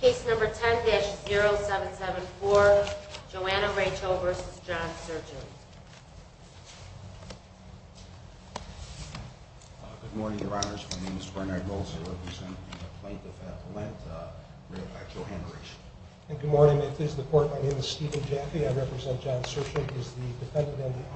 Case number 10-0774, Joanna Rachel v. John Sershen. Good morning, your honors. My name is Bernard Rolse. I represent the plaintiff at the Lent, Joanna Rachel. And good morning. At this report, my name is Stephen Jaffe. I represent John Sershen. He is the defendant on the affidavit.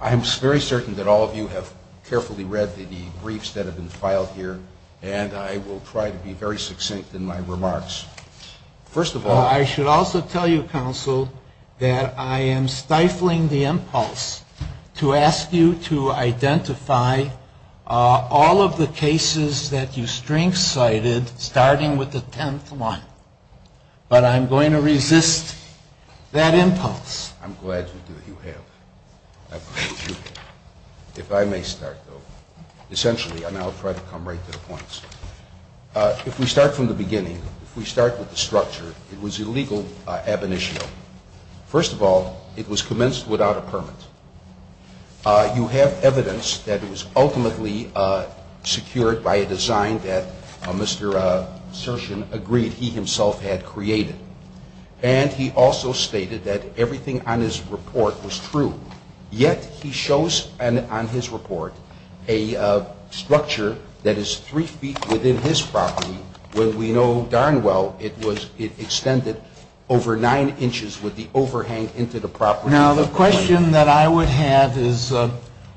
I'm very certain that all of you have carefully read the briefs that have been filed here, and I will try to be very succinct in my remarks. First of all, I should also tell you, counsel, that I am stifling the impulse to ask you to identify all of the cases that you have cited, starting with the 10th one. But I'm going to resist that impulse. I'm glad you do. You have. If I may start, though. Essentially, and I'll try to come right to the points. If we start from the beginning, if we start with the structure, it was illegal ab initio. First of all, it was commenced without a permit. You have evidence that it was ultimately secured by a design that Mr. Sershen agreed he himself had created. And he also stated that everything on his report was true. Yet he shows on his report a structure that is 3 feet within his property, where we know darn well it extended over 9 inches with the overhang into the property. Now, the question that I would have is,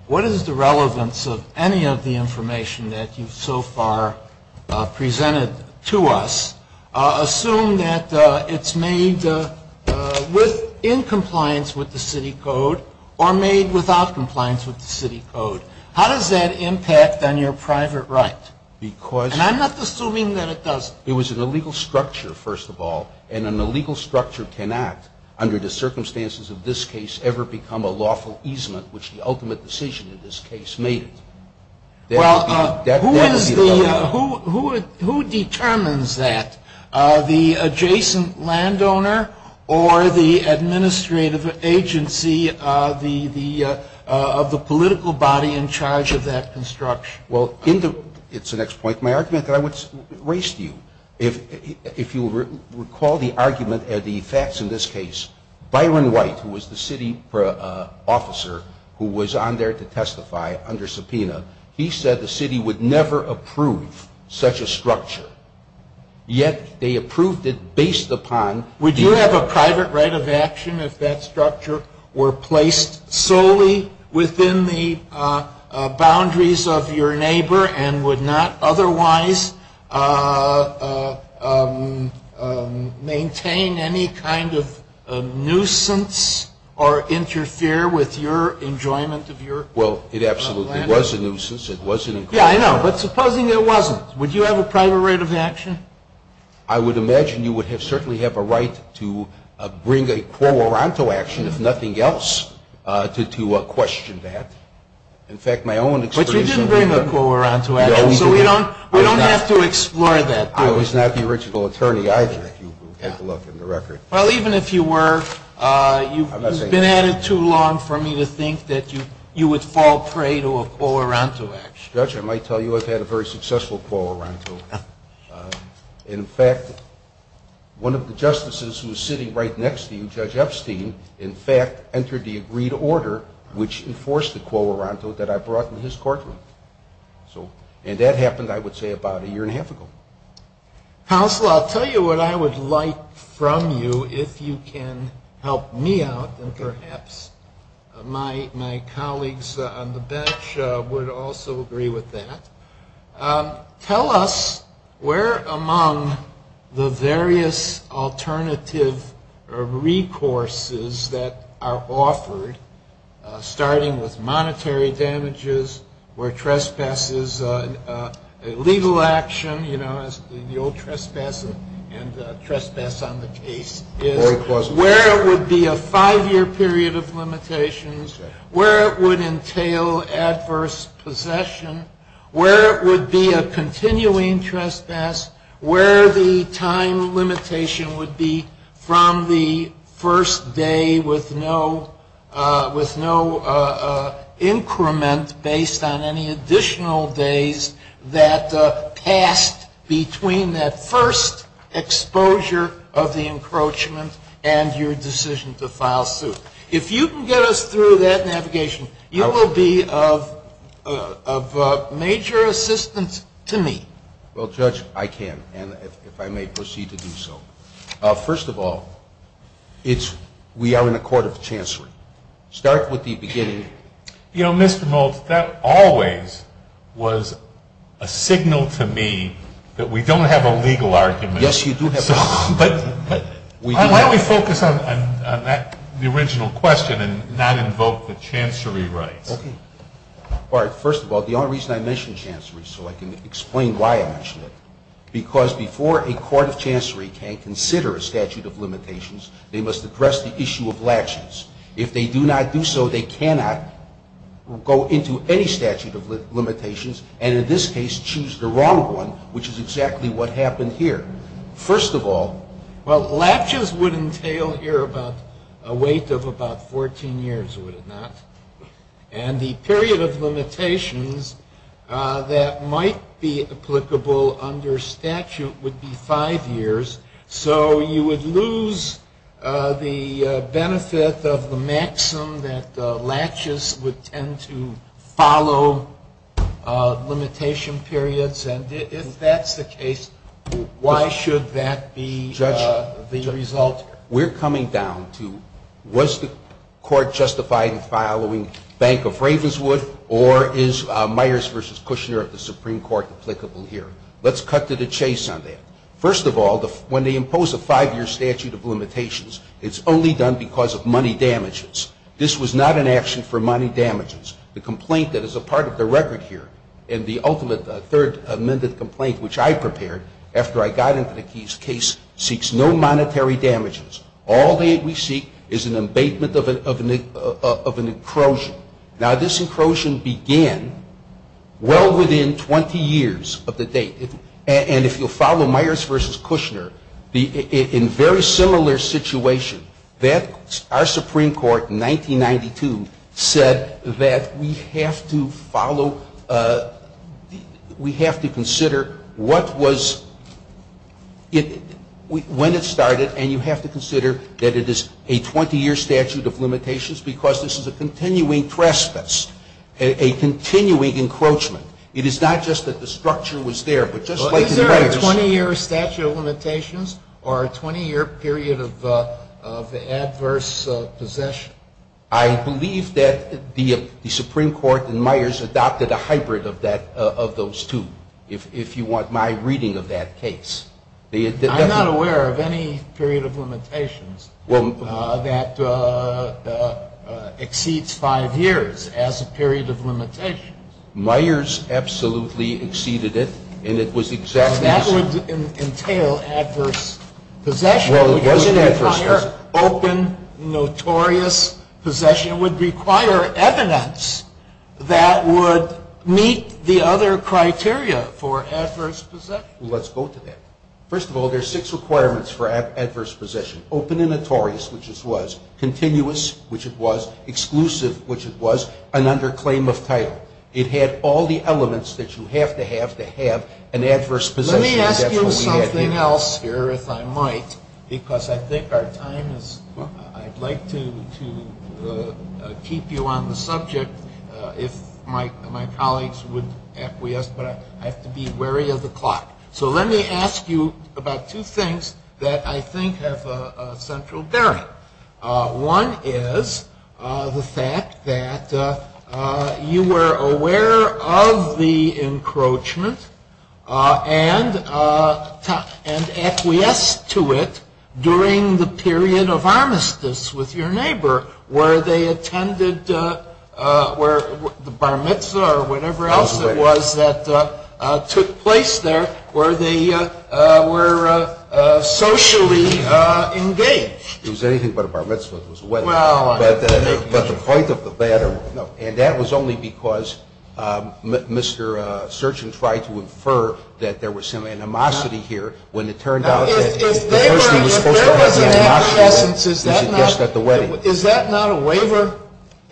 what is the relevance of any of the information that you've so far presented to us? Assume that it's made in compliance with the city code or made without compliance with the city code. How does that impact on your private right? And I'm not assuming that it doesn't. It was an illegal structure, first of all. And an illegal structure cannot, under the circumstances of this case, ever become a lawful easement, which the ultimate decision in this case made it. Well, who determines that? The adjacent landowner or the administrative agency of the political body in charge of that construction? Well, it's the next point. My argument that I would raise to you, if you recall the argument or the facts in this case, Byron White, who was the city officer who was on there to testify under subpoena, he said the city would never approve such a structure. Yet they approved it based upon... Well, it absolutely was a nuisance. It wasn't... Yeah, I know. But supposing it wasn't, would you have a private right of action? I would imagine you would certainly have a right to bring a quo oronto action, if nothing else, to question that. In fact, my own experience... But you didn't bring a quo oronto action. No, we didn't. So we don't have to explore that. I was not the original attorney either, if you look in the record. Well, even if you were, you've been at it too long for me to think that you would fall prey to a quo oronto action. Judge, I might tell you I've had a very successful quo oronto. In fact, one of the justices who was sitting right next to you, Judge Epstein, in fact, entered the agreed order which enforced the quo oronto that I brought in his courtroom. And that happened, I would say, about a year and a half ago. Counsel, I'll tell you what I would like from you, if you can help me out, and perhaps my colleagues on the bench would also agree with that. Tell us where among the various alternative recourses that are offered, starting with monetary damages, where trespass is a legal action, you know, where there would be a continuing trespass, where the time limitation would be from the first day with no increment based on any additional days that passed between that first exposure of the encroachment and your decision to file suit. If you can get us through that navigation, you will be of major assistance to me. Well, Judge, I can, and if I may proceed to do so. First of all, we are in a court of chancery. Start with the beginning. You know, Mr. Maltz, that always was a signal to me that we don't have a legal argument. Yes, you do have a legal argument. Why don't we focus on the original question and not invoke the chancery rights? Okay. All right. First of all, the only reason I mention chancery so I can explain why I mention it, because before a court of chancery can consider a statute of limitations, they must address the issue of latches. If they do not do so, they cannot go into any statute of limitations and, in this case, choose the wrong one, which is exactly what happened here. First of all, well, latches would entail here a weight of about 14 years, would it not? And the period of limitations that might be applicable under statute would be five years. So you would lose the benefit of the maxim that latches would tend to follow limitation periods. And if that's the case, why should that be the result? Judge, we're coming down to was the court justified in following Bank of Ravenswood or is Myers v. Kushner of the Supreme Court applicable here? Let's cut to the chase on that. First of all, when they impose a five-year statute of limitations, it's only done because of money damages. This was not an action for money damages. The complaint that is a part of the record here and the ultimate third amended complaint, which I prepared after I got into the case, seeks no monetary damages. All that we seek is an abatement of an encroachment. Now, this encroachment began well within 20 years of the date. And if you'll follow Myers v. Kushner, in a very similar situation, our Supreme Court in 1992 said that we have to follow, we have to consider what was, when it started and you have to consider that it is a 20-year statute of limitations because this is a continuing trespass, a continuing encroachment. It is not just that the structure was there, but just like the damages. Is there a 20-year statute of limitations or a 20-year period of adverse possession? I believe that the Supreme Court in Myers adopted a hybrid of that, of those two, if you want my reading of that case. I'm not aware of any period of limitations that exceeds five years as a period of limitations. Myers absolutely exceeded it, and it was exactly the same. But that would entail adverse possession. Well, it wasn't adverse possession. It would require open, notorious possession. It would require evidence that would meet the other criteria for adverse possession. Well, let's go to that. First of all, there are six requirements for adverse possession. Open and notorious, which it was. Continuous, which it was. Exclusive, which it was. And under claim of title. It had all the elements that you have to have to have an adverse possession. Let me ask you something else here, if I might, because I think our time is up. I'd like to keep you on the subject if my colleagues would acquiesce, but I have to be wary of the clock. So let me ask you about two things that I think have central bearing. One is the fact that you were aware of the encroachment and acquiesced to it during the period of armistice with your neighbor, where the bar mitzvah or whatever else it was that took place there, where they were socially engaged. It was anything but a bar mitzvah. It was a wedding. But the point of the matter, and that was only because Mr. Searchen tried to infer that there was some animosity here. Now, if there was an acquiescence, is that not a waiver?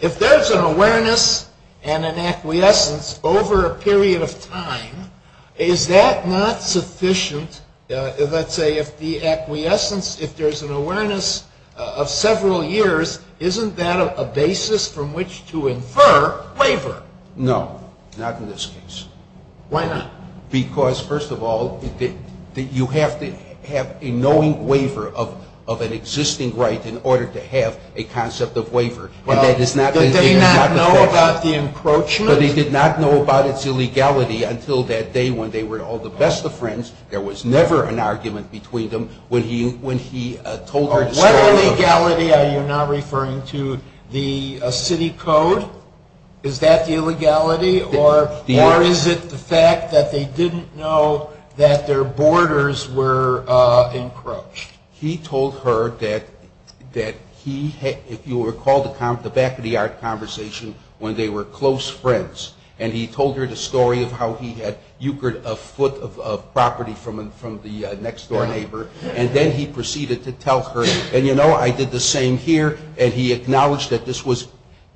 If there's an awareness and an acquiescence over a period of time, is that not sufficient? Let's say if the acquiescence, if there's an awareness of several years, isn't that a basis from which to infer waiver? No, not in this case. Why not? Because, first of all, you have to have a knowing waiver of an existing right in order to have a concept of waiver. Well, did he not know about the encroachment? But he did not know about its illegality until that day when they were all the best of friends. There was never an argument between them. What illegality are you now referring to? The city code? Is that the illegality? Or is it the fact that they didn't know that their borders were encroached? He told her that he had, if you recall, the back-of-the-art conversation when they were close friends. And he told her the story of how he had euchered a foot of property from the next-door neighbor. And then he proceeded to tell her, and, you know, I did the same here. And he acknowledged that this was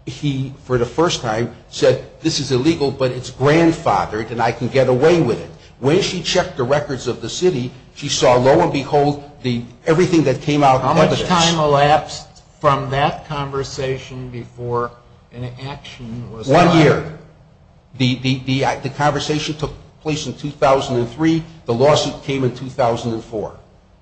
he, for the first time, said, this is illegal, but it's grandfathered, and I can get away with it. When she checked the records of the city, she saw, lo and behold, everything that came out of evidence. How much time elapsed from that conversation before an action was taken? One year. The conversation took place in 2003. The lawsuit came in 2004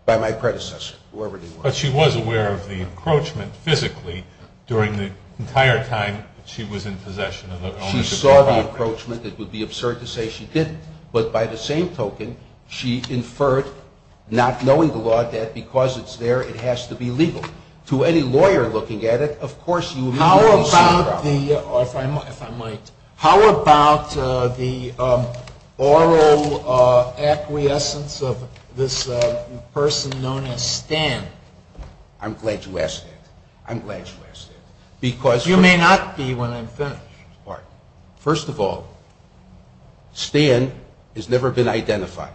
by my predecessor, whoever they were. But she was aware of the encroachment physically during the entire time that she was in possession of the ownership of the property. She saw the encroachment. It would be absurd to say she didn't. But by the same token, she inferred, not knowing the law, that because it's there, it has to be legal. To any lawyer looking at it, of course you would be in the same problem. How about the oral acquiescence of this person known as Stan? I'm glad you asked that. I'm glad you asked that. You may not be when I'm finished. First of all, Stan has never been identified.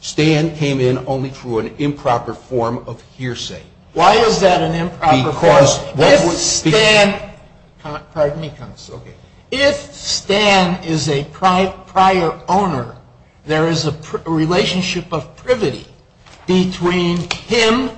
Stan came in only through an improper form of hearsay. Why is that an improper form? Because if Stan is a prior owner, there is a relationship of privity between him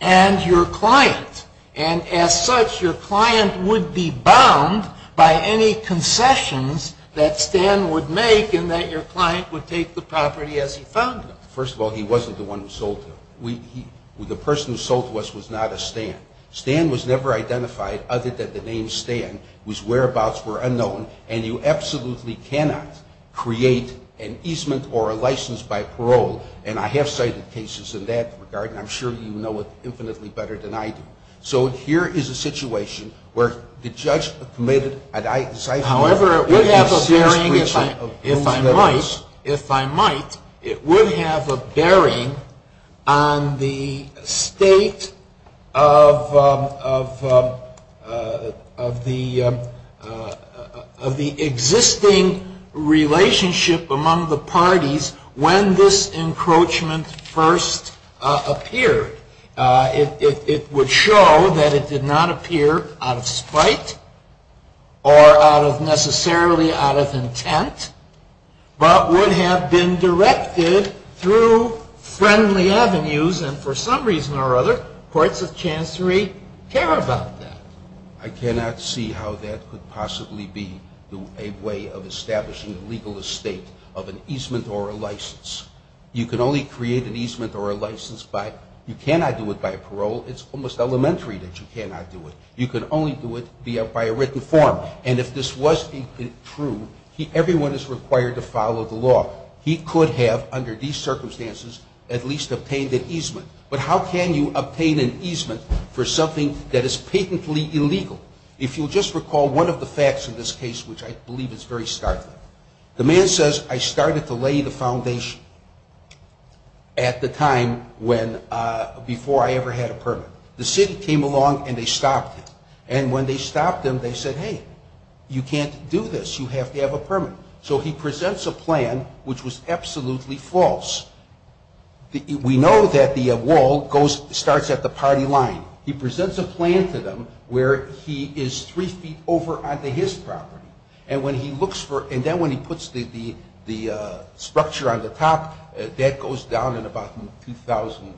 and your client. And as such, your client would be bound by any concessions that Stan would make and that your client would take the property as he found it. First of all, he wasn't the one who sold to him. The person who sold to us was not a Stan. Stan was never identified other than the name Stan whose whereabouts were unknown. And you absolutely cannot create an easement or a license by parole. And I have cited cases in that regard. And I'm sure you know it infinitely better than I do. So here is a situation where the judge committed a decipherment. However, it would have a bearing, if I might, it would have a bearing on the state of the existing relationship among the parties when this encroachment first appeared. It would show that it did not appear out of spite or necessarily out of intent, but would have been directed through friendly avenues. And for some reason or other, courts of chancery care about that. I cannot see how that could possibly be a way of establishing a legal estate of an easement or a license. You can only create an easement or a license by, you cannot do it by parole. It's almost elementary that you cannot do it. You can only do it by a written form. And if this was true, everyone is required to follow the law. He could have, under these circumstances, at least obtained an easement. But how can you obtain an easement for something that is patently illegal? If you'll just recall one of the facts in this case, which I believe is very startling. The man says, I started to lay the foundation at the time when, before I ever had a permit. The city came along and they stopped him. And when they stopped him, they said, hey, you can't do this. You have to have a permit. So he presents a plan which was absolutely false. We know that the wall starts at the party line. He presents a plan to them where he is three feet over onto his property. And when he looks for, and then when he puts the structure on the top, that goes down in about 2000,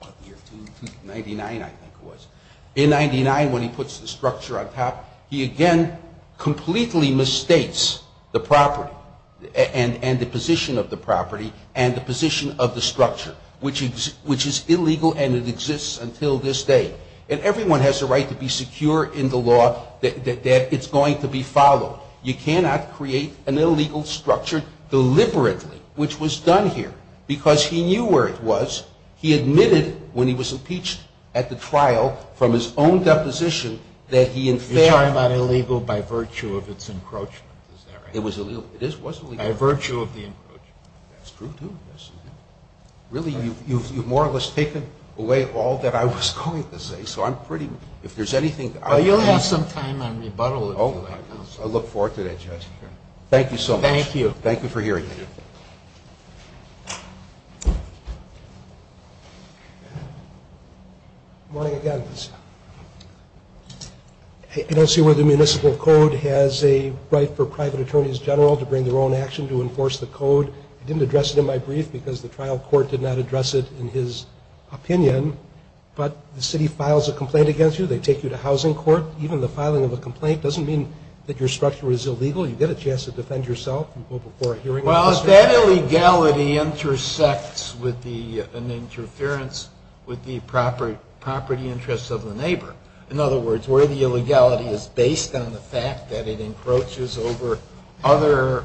1999 I think it was. In 99, when he puts the structure on top, he again completely misstates the property and the position of the property and the position of the structure, which is illegal and it exists until this day. And everyone has a right to be secure in the law that it's going to be followed. You cannot create an illegal structure deliberately, which was done here, because he knew where it was. He admitted when he was impeached at the trial from his own deposition that he in fact. You're talking about illegal by virtue of its encroachment, is that right? It was illegal. It was illegal. By virtue of the encroachment. That's true, too. Really, you've more or less taken away all that I was going to say. So I'm pretty, if there's anything. You'll have some time on rebuttal. I look forward to that, Judge. Thank you so much. Thank you. Thank you for hearing me. Good morning, again. I don't see where the municipal code has a right for private attorneys general to bring their own action to enforce the code. I didn't address it in my brief because the trial court did not address it in his opinion. But the city files a complaint against you. They take you to housing court. Even the filing of a complaint doesn't mean that your structure is illegal. You get a chance to defend yourself. You go before a hearing. Well, if that illegality intersects with an interference with the property interests of the neighbor, in other words, where the illegality is based on the fact that it encroaches over other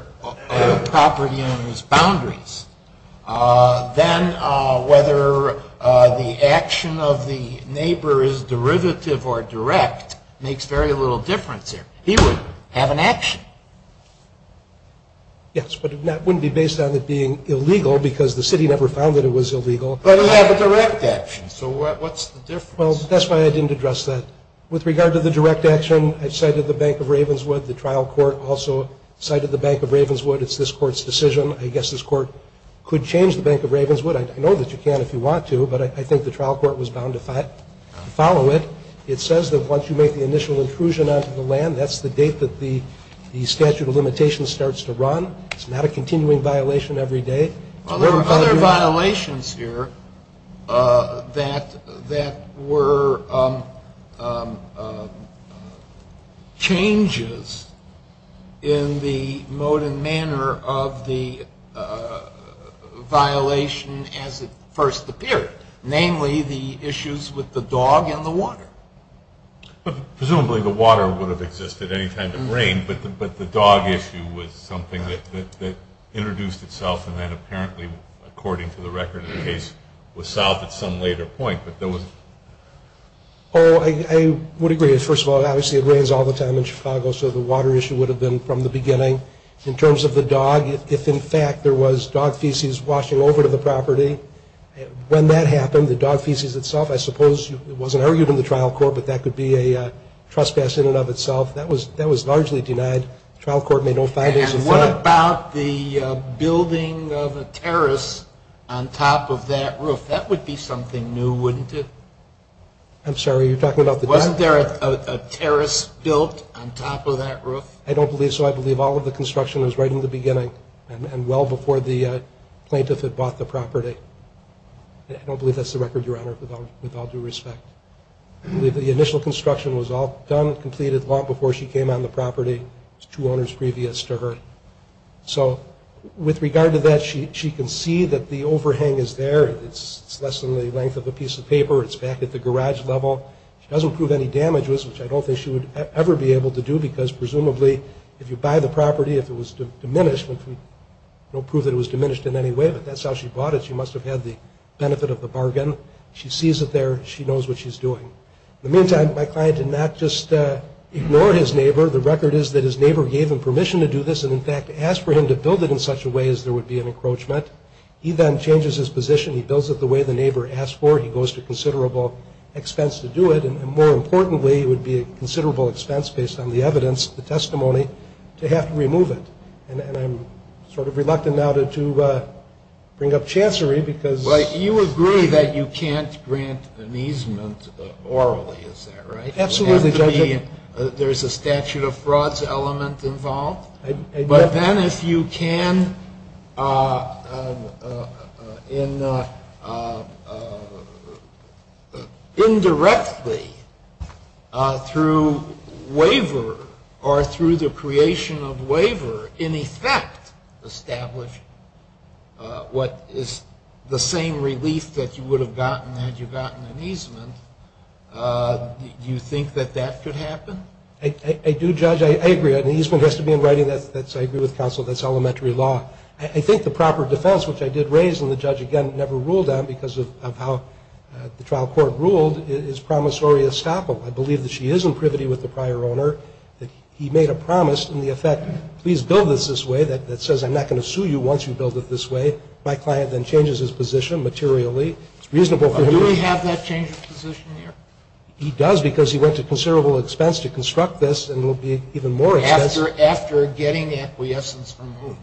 property owners' boundaries, then whether the action of the neighbor is derivative or direct makes very little difference here. He would have an action. Yes, but it wouldn't be based on it being illegal because the city never found that it was illegal. But it would have a direct action. So what's the difference? Well, that's why I didn't address that. With regard to the direct action, I've cited the Bank of Ravenswood. The trial court also cited the Bank of Ravenswood. It's this court's decision. I guess this court could change the Bank of Ravenswood. I know that you can if you want to, but I think the trial court was bound to follow it. It says that once you make the initial intrusion onto the land, that's the date that the statute of limitations starts to run. It's not a continuing violation every day. Well, there were other violations here that were changes in the mode and manner of the violation as it first appeared, namely the issues with the dog and the water. Presumably the water would have existed any time it rained, but the dog issue was something that introduced itself and then apparently, according to the record of the case, was solved at some later point. I would agree. First of all, obviously it rains all the time in Chicago, so the water issue would have been from the beginning. In terms of the dog, if in fact there was dog feces washing over to the property, when that happened, the dog feces itself, I suppose it wasn't argued in the trial court, but that could be a trespass in and of itself, that was largely denied. The trial court made no findings of that. And what about the building of a terrace on top of that roof? That would be something new, wouldn't it? I'm sorry, you're talking about the dog? Wasn't there a terrace built on top of that roof? I don't believe so. I believe all of the construction was right in the beginning and well before the plaintiff had bought the property. I don't believe that's the record, Your Honor, with all due respect. I believe the initial construction was all done and completed long before she came on the property. It was two owners previous to her. So with regard to that, she can see that the overhang is there. It's less than the length of a piece of paper. It's back at the garage level. She doesn't prove any damages, which I don't think she would ever be able to do because presumably if you buy the property, if it was diminished, there's no proof that it was diminished in any way, but that's how she bought it. She must have had the benefit of the bargain. She sees it there. She knows what she's doing. In the meantime, my client did not just ignore his neighbor. The record is that his neighbor gave him permission to do this and, in fact, asked for him to build it in such a way as there would be an encroachment. He then changes his position. He builds it the way the neighbor asked for it. He goes to considerable expense to do it. And more importantly, it would be a considerable expense based on the evidence, the testimony, to have to remove it. And I'm sort of reluctant now to bring up chancery because you agree that you can't grant an easement orally. Is that right? Absolutely, Judge. There's a statute of frauds element involved. But then if you can indirectly, through waiver or through the creation of waiver, in effect establish what is the same relief that you would have gotten had you gotten an easement, do you think that that could happen? I do, Judge. I agree. An easement has to be in writing. I agree with counsel. That's elementary law. I think the proper defense, which I did raise and the judge, again, never ruled on because of how the trial court ruled, is promissory estoppel. I believe that she is in privity with the prior owner that he made a promise in the effect, please build this this way, that says I'm not going to sue you once you build it this way. My client then changes his position materially. It's reasonable for him to do it. Does he have that change of position here? He does because he went to considerable expense to construct this and will be even more expensive. After getting acquiescence from whom?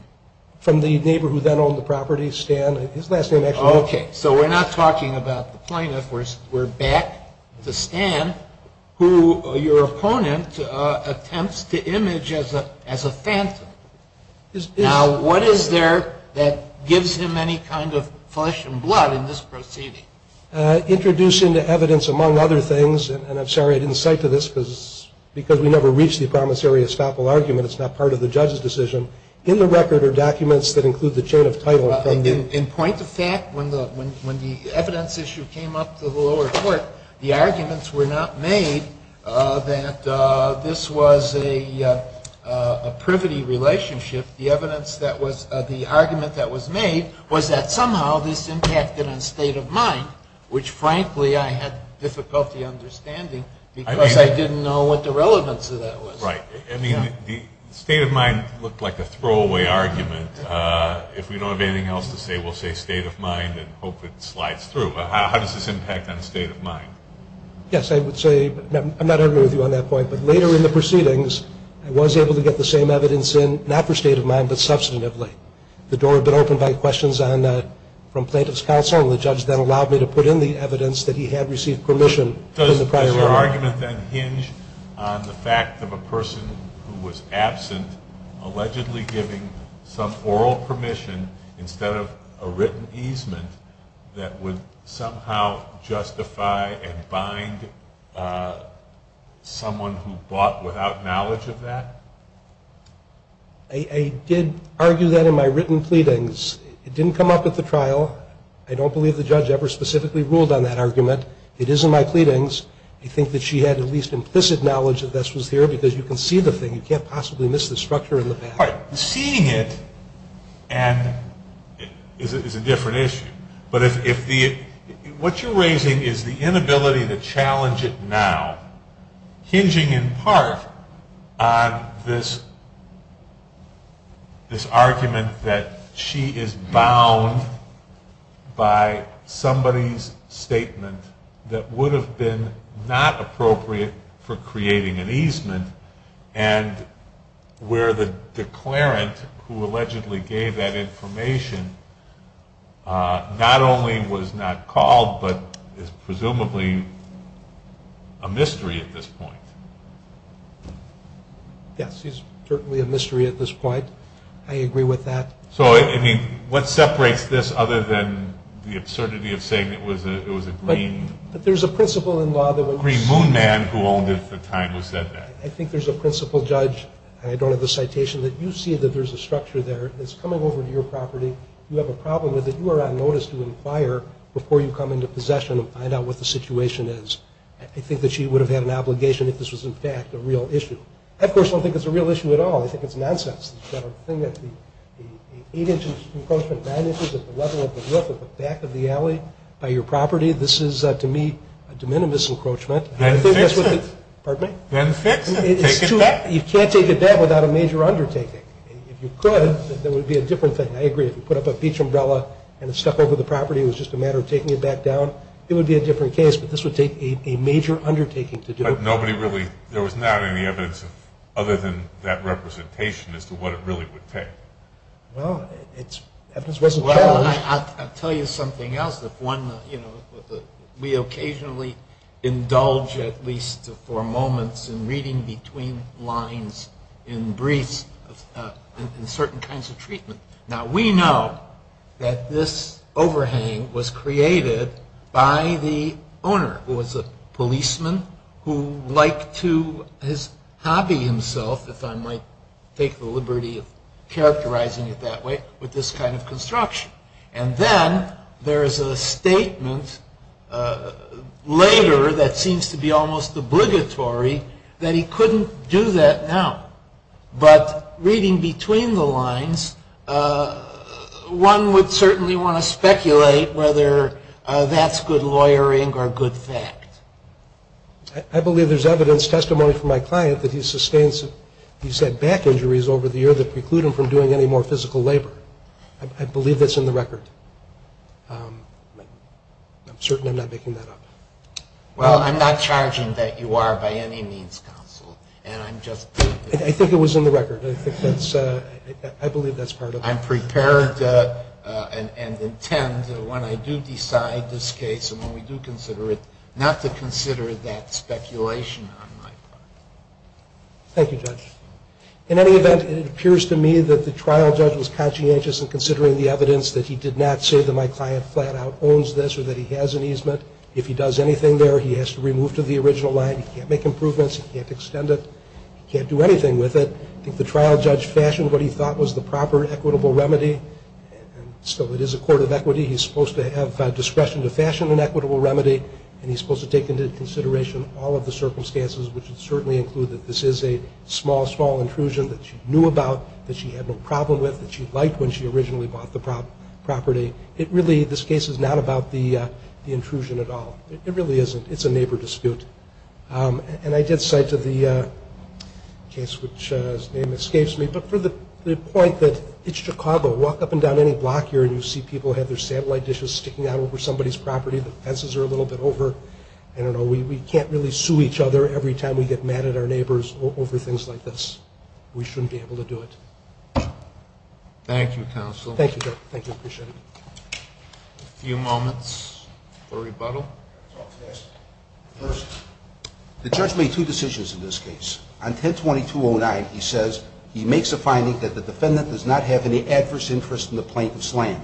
From the neighbor who then owned the property, Stan. His last name actually. Okay. So we're not talking about the plaintiff. We're back to Stan, who your opponent attempts to image as a phantom. Now, what is there that gives him any kind of flesh and blood in this proceeding? Introducing the evidence, among other things, and I'm sorry I didn't cite to this because we never reached the promissory estoppel argument. It's not part of the judge's decision. In the record are documents that include the chain of title. In point of fact, when the evidence issue came up to the lower court, the arguments were not made that this was a privity relationship. The argument that was made was that somehow this impacted on state of mind, which frankly I had difficulty understanding because I didn't know what the relevance of that was. Right. I mean, the state of mind looked like a throwaway argument. If we don't have anything else to say, we'll say state of mind and hope it slides through. How does this impact on state of mind? Yes, I would say, I'm not arguing with you on that point, but later in the proceedings I was able to get the same evidence in, not for state of mind, but substantively. The door had been opened by questions from plaintiff's counsel, and the judge then allowed me to put in the evidence that he had received permission in the prior order. Does your argument then hinge on the fact of a person who was absent allegedly giving some oral permission instead of a written easement that would somehow justify and bind someone who bought without knowledge of that? I did argue that in my written pleadings. It didn't come up at the trial. I don't believe the judge ever specifically ruled on that argument. It is in my pleadings. I think that she had at least implicit knowledge that this was here because you can see the thing. You can't possibly miss the structure in the past. Seeing it is a different issue. What you're raising is the inability to challenge it now, hinging in part on this argument that she is bound by somebody's statement that would have been not appropriate for creating an easement and where the declarant who allegedly gave that information not only was not called but is presumably a mystery at this point. Yes, he's certainly a mystery at this point. I agree with that. So what separates this other than the absurdity of saying it was a green moon man who owned it at the time it was said that? I think there's a principal judge, and I don't have a citation, that you see that there's a structure there that's coming over to your property. You have a problem with it. You are on notice to inquire before you come into possession and find out what the situation is. I think that she would have had an obligation if this was, in fact, a real issue. I, of course, don't think it's a real issue at all. I think it's nonsense. The thing that the 8-inch encroachment manages at the level of the roof at the back of the alley by your property, this is, to me, a de minimis encroachment. Then fix it. Pardon me? Then fix it. Take it back. You can't take it back without a major undertaking. If you could, there would be a different thing. I agree. If you put up a beach umbrella and it stuck over the property, it was just a matter of taking it back down, it would be a different case. But this would take a major undertaking to do. But nobody really – there was not any evidence other than that representation as to what it really would take. Well, evidence wasn't challenged. I'll tell you something else. We occasionally indulge at least for moments in reading between lines in briefs in certain kinds of treatment. Now, we know that this overhang was created by the owner, who was a policeman who liked to hobby himself, if I might take the liberty of characterizing it that way, with this kind of construction. And then there is a statement later that seems to be almost obligatory that he couldn't do that now. But reading between the lines, one would certainly want to speculate whether that's good lawyering or good fact. I believe there's evidence, testimony from my client, that he sustains – he's had back injuries over the years that preclude him from doing any more physical labor. I believe that's in the record. I'm certain I'm not making that up. Well, I'm not charging that you are by any means counsel. And I'm just – I think it was in the record. I believe that's part of it. I'm prepared and intend, when I do decide this case and when we do consider it, not to consider that speculation on my part. Thank you, Judge. In any event, it appears to me that the trial judge was conscientious in considering the evidence that he did not say that my client flat out owns this or that he has an easement. If he does anything there, he has to remove to the original line. He can't make improvements. He can't extend it. He can't do anything with it. I think the trial judge fashioned what he thought was the proper equitable remedy. So it is a court of equity. He's supposed to have discretion to fashion an equitable remedy, and he's supposed to take into consideration all of the circumstances, which would certainly include that this is a small, small intrusion that she knew about, that she had no problem with, that she liked when she originally bought the property. It really – this case is not about the intrusion at all. It really isn't. It's a neighbor dispute. And I did cite to the case, which his name escapes me, but for the point that it's Chicago. Walk up and down any block here and you see people have their satellite dishes sticking out over somebody's property. The fences are a little bit over. I don't know. We can't really sue each other every time we get mad at our neighbors over things like this. We shouldn't be able to do it. Thank you, counsel. Thank you. Thank you. Appreciate it. A few moments for rebuttal. First, the judge made two decisions in this case. On 10-2209, he says he makes a finding that the defendant does not have any adverse interest in the plaintiff's land.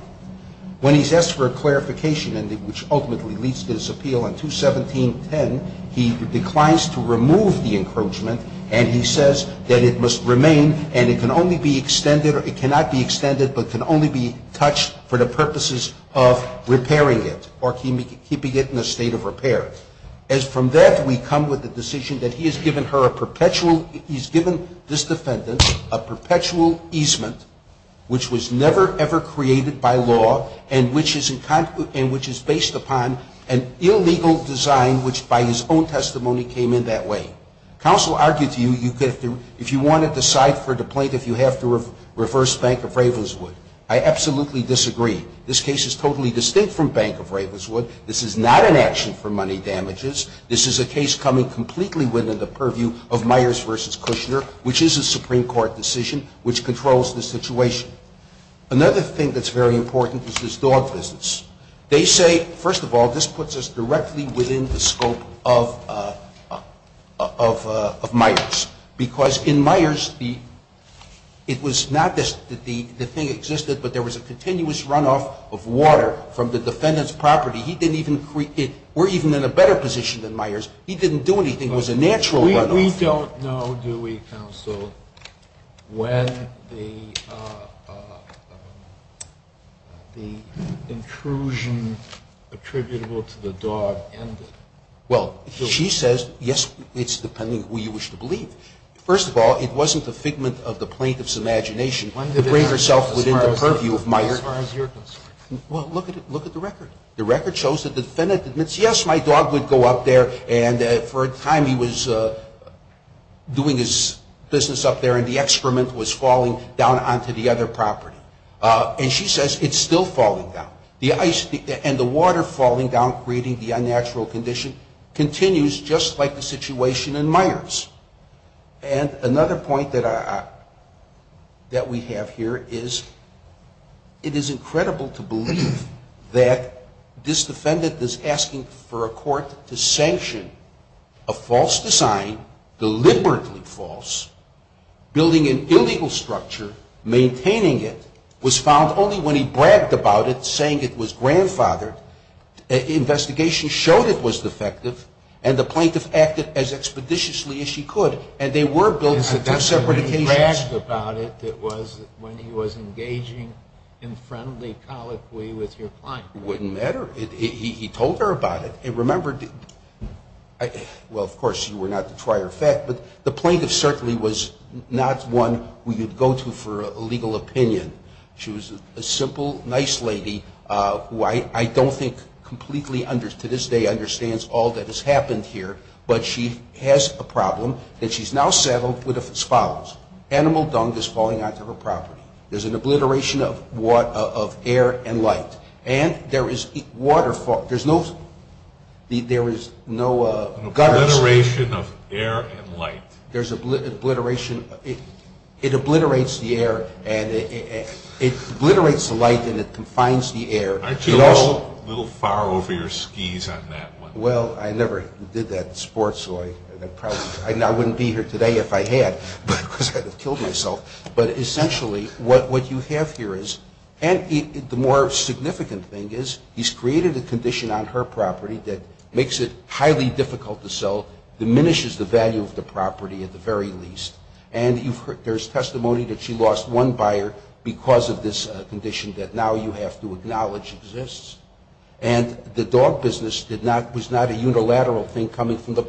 When he's asked for a clarification, which ultimately leads to his appeal on 217-10, he declines to remove the encroachment, and he says that it must remain and it can only be extended – it cannot be extended but can only be touched for the purposes of repairing it or keeping it in a state of repair. From that, we come with the decision that he has given her a perpetual – he's given this defendant a perpetual easement, which was never, ever created by law and which is based upon an illegal design which, by his own testimony, came in that way. Counsel argued to you, if you want to decide for the plaintiff, you have to reverse Bank of Ravenswood. I absolutely disagree. This case is totally distinct from Bank of Ravenswood. This is not an action for money damages. This is a case coming completely within the purview of Myers v. Kushner, which is a Supreme Court decision, which controls the situation. Another thing that's very important is this dog business. They say, first of all, this puts us directly within the scope of Myers, because in Myers, it was not that the thing existed, but there was a continuous runoff of water from the defendant's property. He didn't even – we're even in a better position than Myers. He didn't do anything. It was a natural runoff. We don't know, do we, counsel, when the intrusion attributable to the dog ended. Well, she says, yes, it's depending on who you wish to believe. First of all, it wasn't the figment of the plaintiff's imagination to bring herself within the purview of Myers. As far as you're concerned. Well, look at the record. The record shows that the defendant admits, yes, my dog would go up there and for a time he was doing his business up there and the excrement was falling down onto the other property. And she says it's still falling down. And the water falling down, creating the unnatural condition, continues just like the situation in Myers. And another point that we have here is it is incredible to believe that this defendant is asking for a court to sanction a false design, deliberately false, building an illegal structure, maintaining it, was found only when he bragged about it, saying it was grandfathered. Investigations showed it was defective and the plaintiff acted as expeditiously as she could. And they were built on two separate occasions. When he was engaging in friendly colloquy with your client. It wouldn't matter. He told her about it. And remember, well, of course, you were not to try her fat, but the plaintiff certainly was not one who you'd go to for a legal opinion. She was a simple, nice lady who I don't think completely, to this day, understands all that has happened here. But she has a problem that she's now settled with as follows. Animal dung is falling onto her property. There's an obliteration of air and light. And there is no gutters. An obliteration of air and light. There's an obliteration. It obliterates the air and it obliterates the light and it confines the air. Aren't you a little far over your skis on that one? Well, I never did that in sports, so I probably wouldn't be here today if I had, because I'd have killed myself. But essentially what you have here is, and the more significant thing is, he's created a condition on her property that makes it highly difficult to sell, diminishes the value of the property at the very least. And there's testimony that she lost one buyer because of this condition that now you have to acknowledge exists. And the dog business was not a unilateral thing coming from the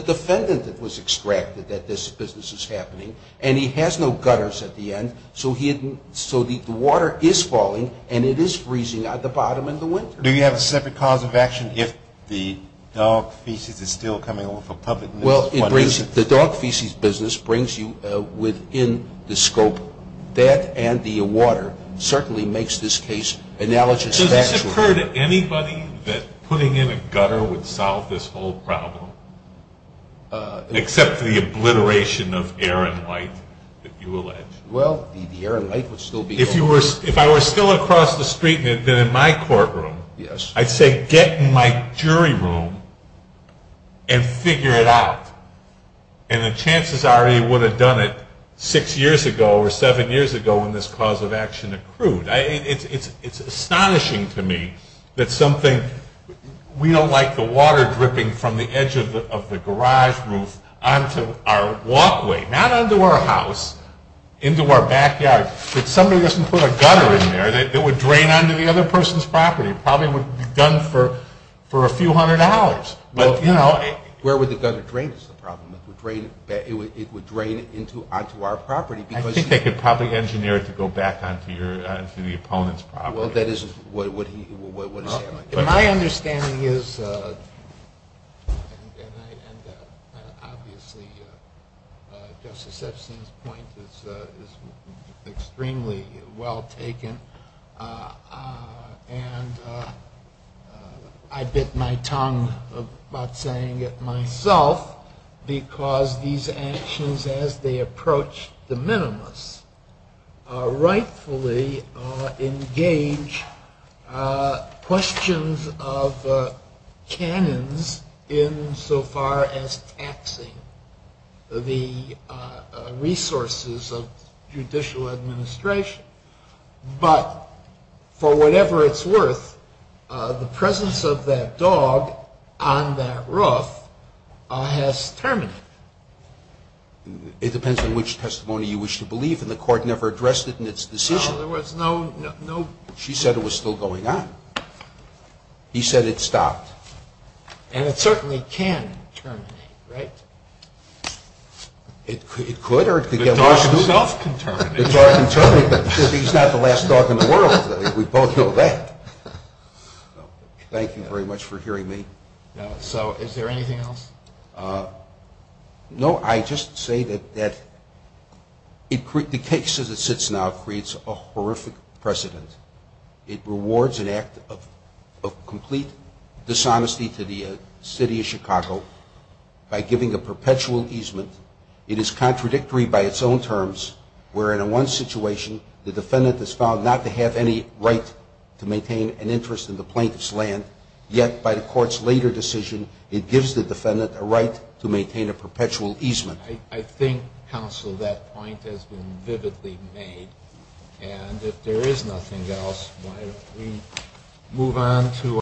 defendant that was extracted that this business is happening. And he has no gutters at the end, so the water is falling and it is freezing at the bottom in the winter. Do you have a separate cause of action if the dog feces is still coming over for public? Well, the dog feces business brings you within the scope. That and the water certainly makes this case analogous. So has this occurred to anybody that putting in a gutter would solve this whole problem, except for the obliteration of Aaron White that you allege? Well, the Aaron White would still be open. If I were still across the street and had been in my courtroom, I'd say get in my jury room and figure it out. And the chances are he would have done it six years ago or seven years ago when this cause of action accrued. It's astonishing to me that something we don't like the water dripping from the edge of the garage roof onto our walkway, not onto our house, into our backyard. If somebody doesn't put a gutter in there, it would drain onto the other person's property. It probably would be done for a few hundred dollars. Where would the gutter drain is the problem. It would drain onto our property. I think they could probably engineer it to go back onto the opponent's property. Well, that is what he would say. My understanding is, and obviously Justice Epstein's point is extremely well taken, and I bit my tongue about saying it myself, because these actions as they approach the minimus rightfully engage questions of canons in so far as taxing the resources of judicial administration. But for whatever it's worth, the presence of that dog on that roof has terminated. It depends on which testimony you wish to believe, and the court never addressed it in its decision. She said it was still going on. He said it stopped. And it certainly can terminate, right? It could or it could get worse. The dog itself can terminate. The dog can terminate, but he's not the last dog in the world. We both know that. Thank you very much for hearing me. So is there anything else? No, I just say that the case as it sits now creates a horrific precedent. It rewards an act of complete dishonesty to the city of Chicago by giving a perpetual easement. It is contradictory by its own terms, where in one situation, the defendant is found not to have any right to maintain an interest in the plaintiff's land, yet by the court's later decision, it gives the defendant a right to maintain a perpetual easement. I think, counsel, that point has been vividly made. And if there is nothing else, why don't we move on to our next panel?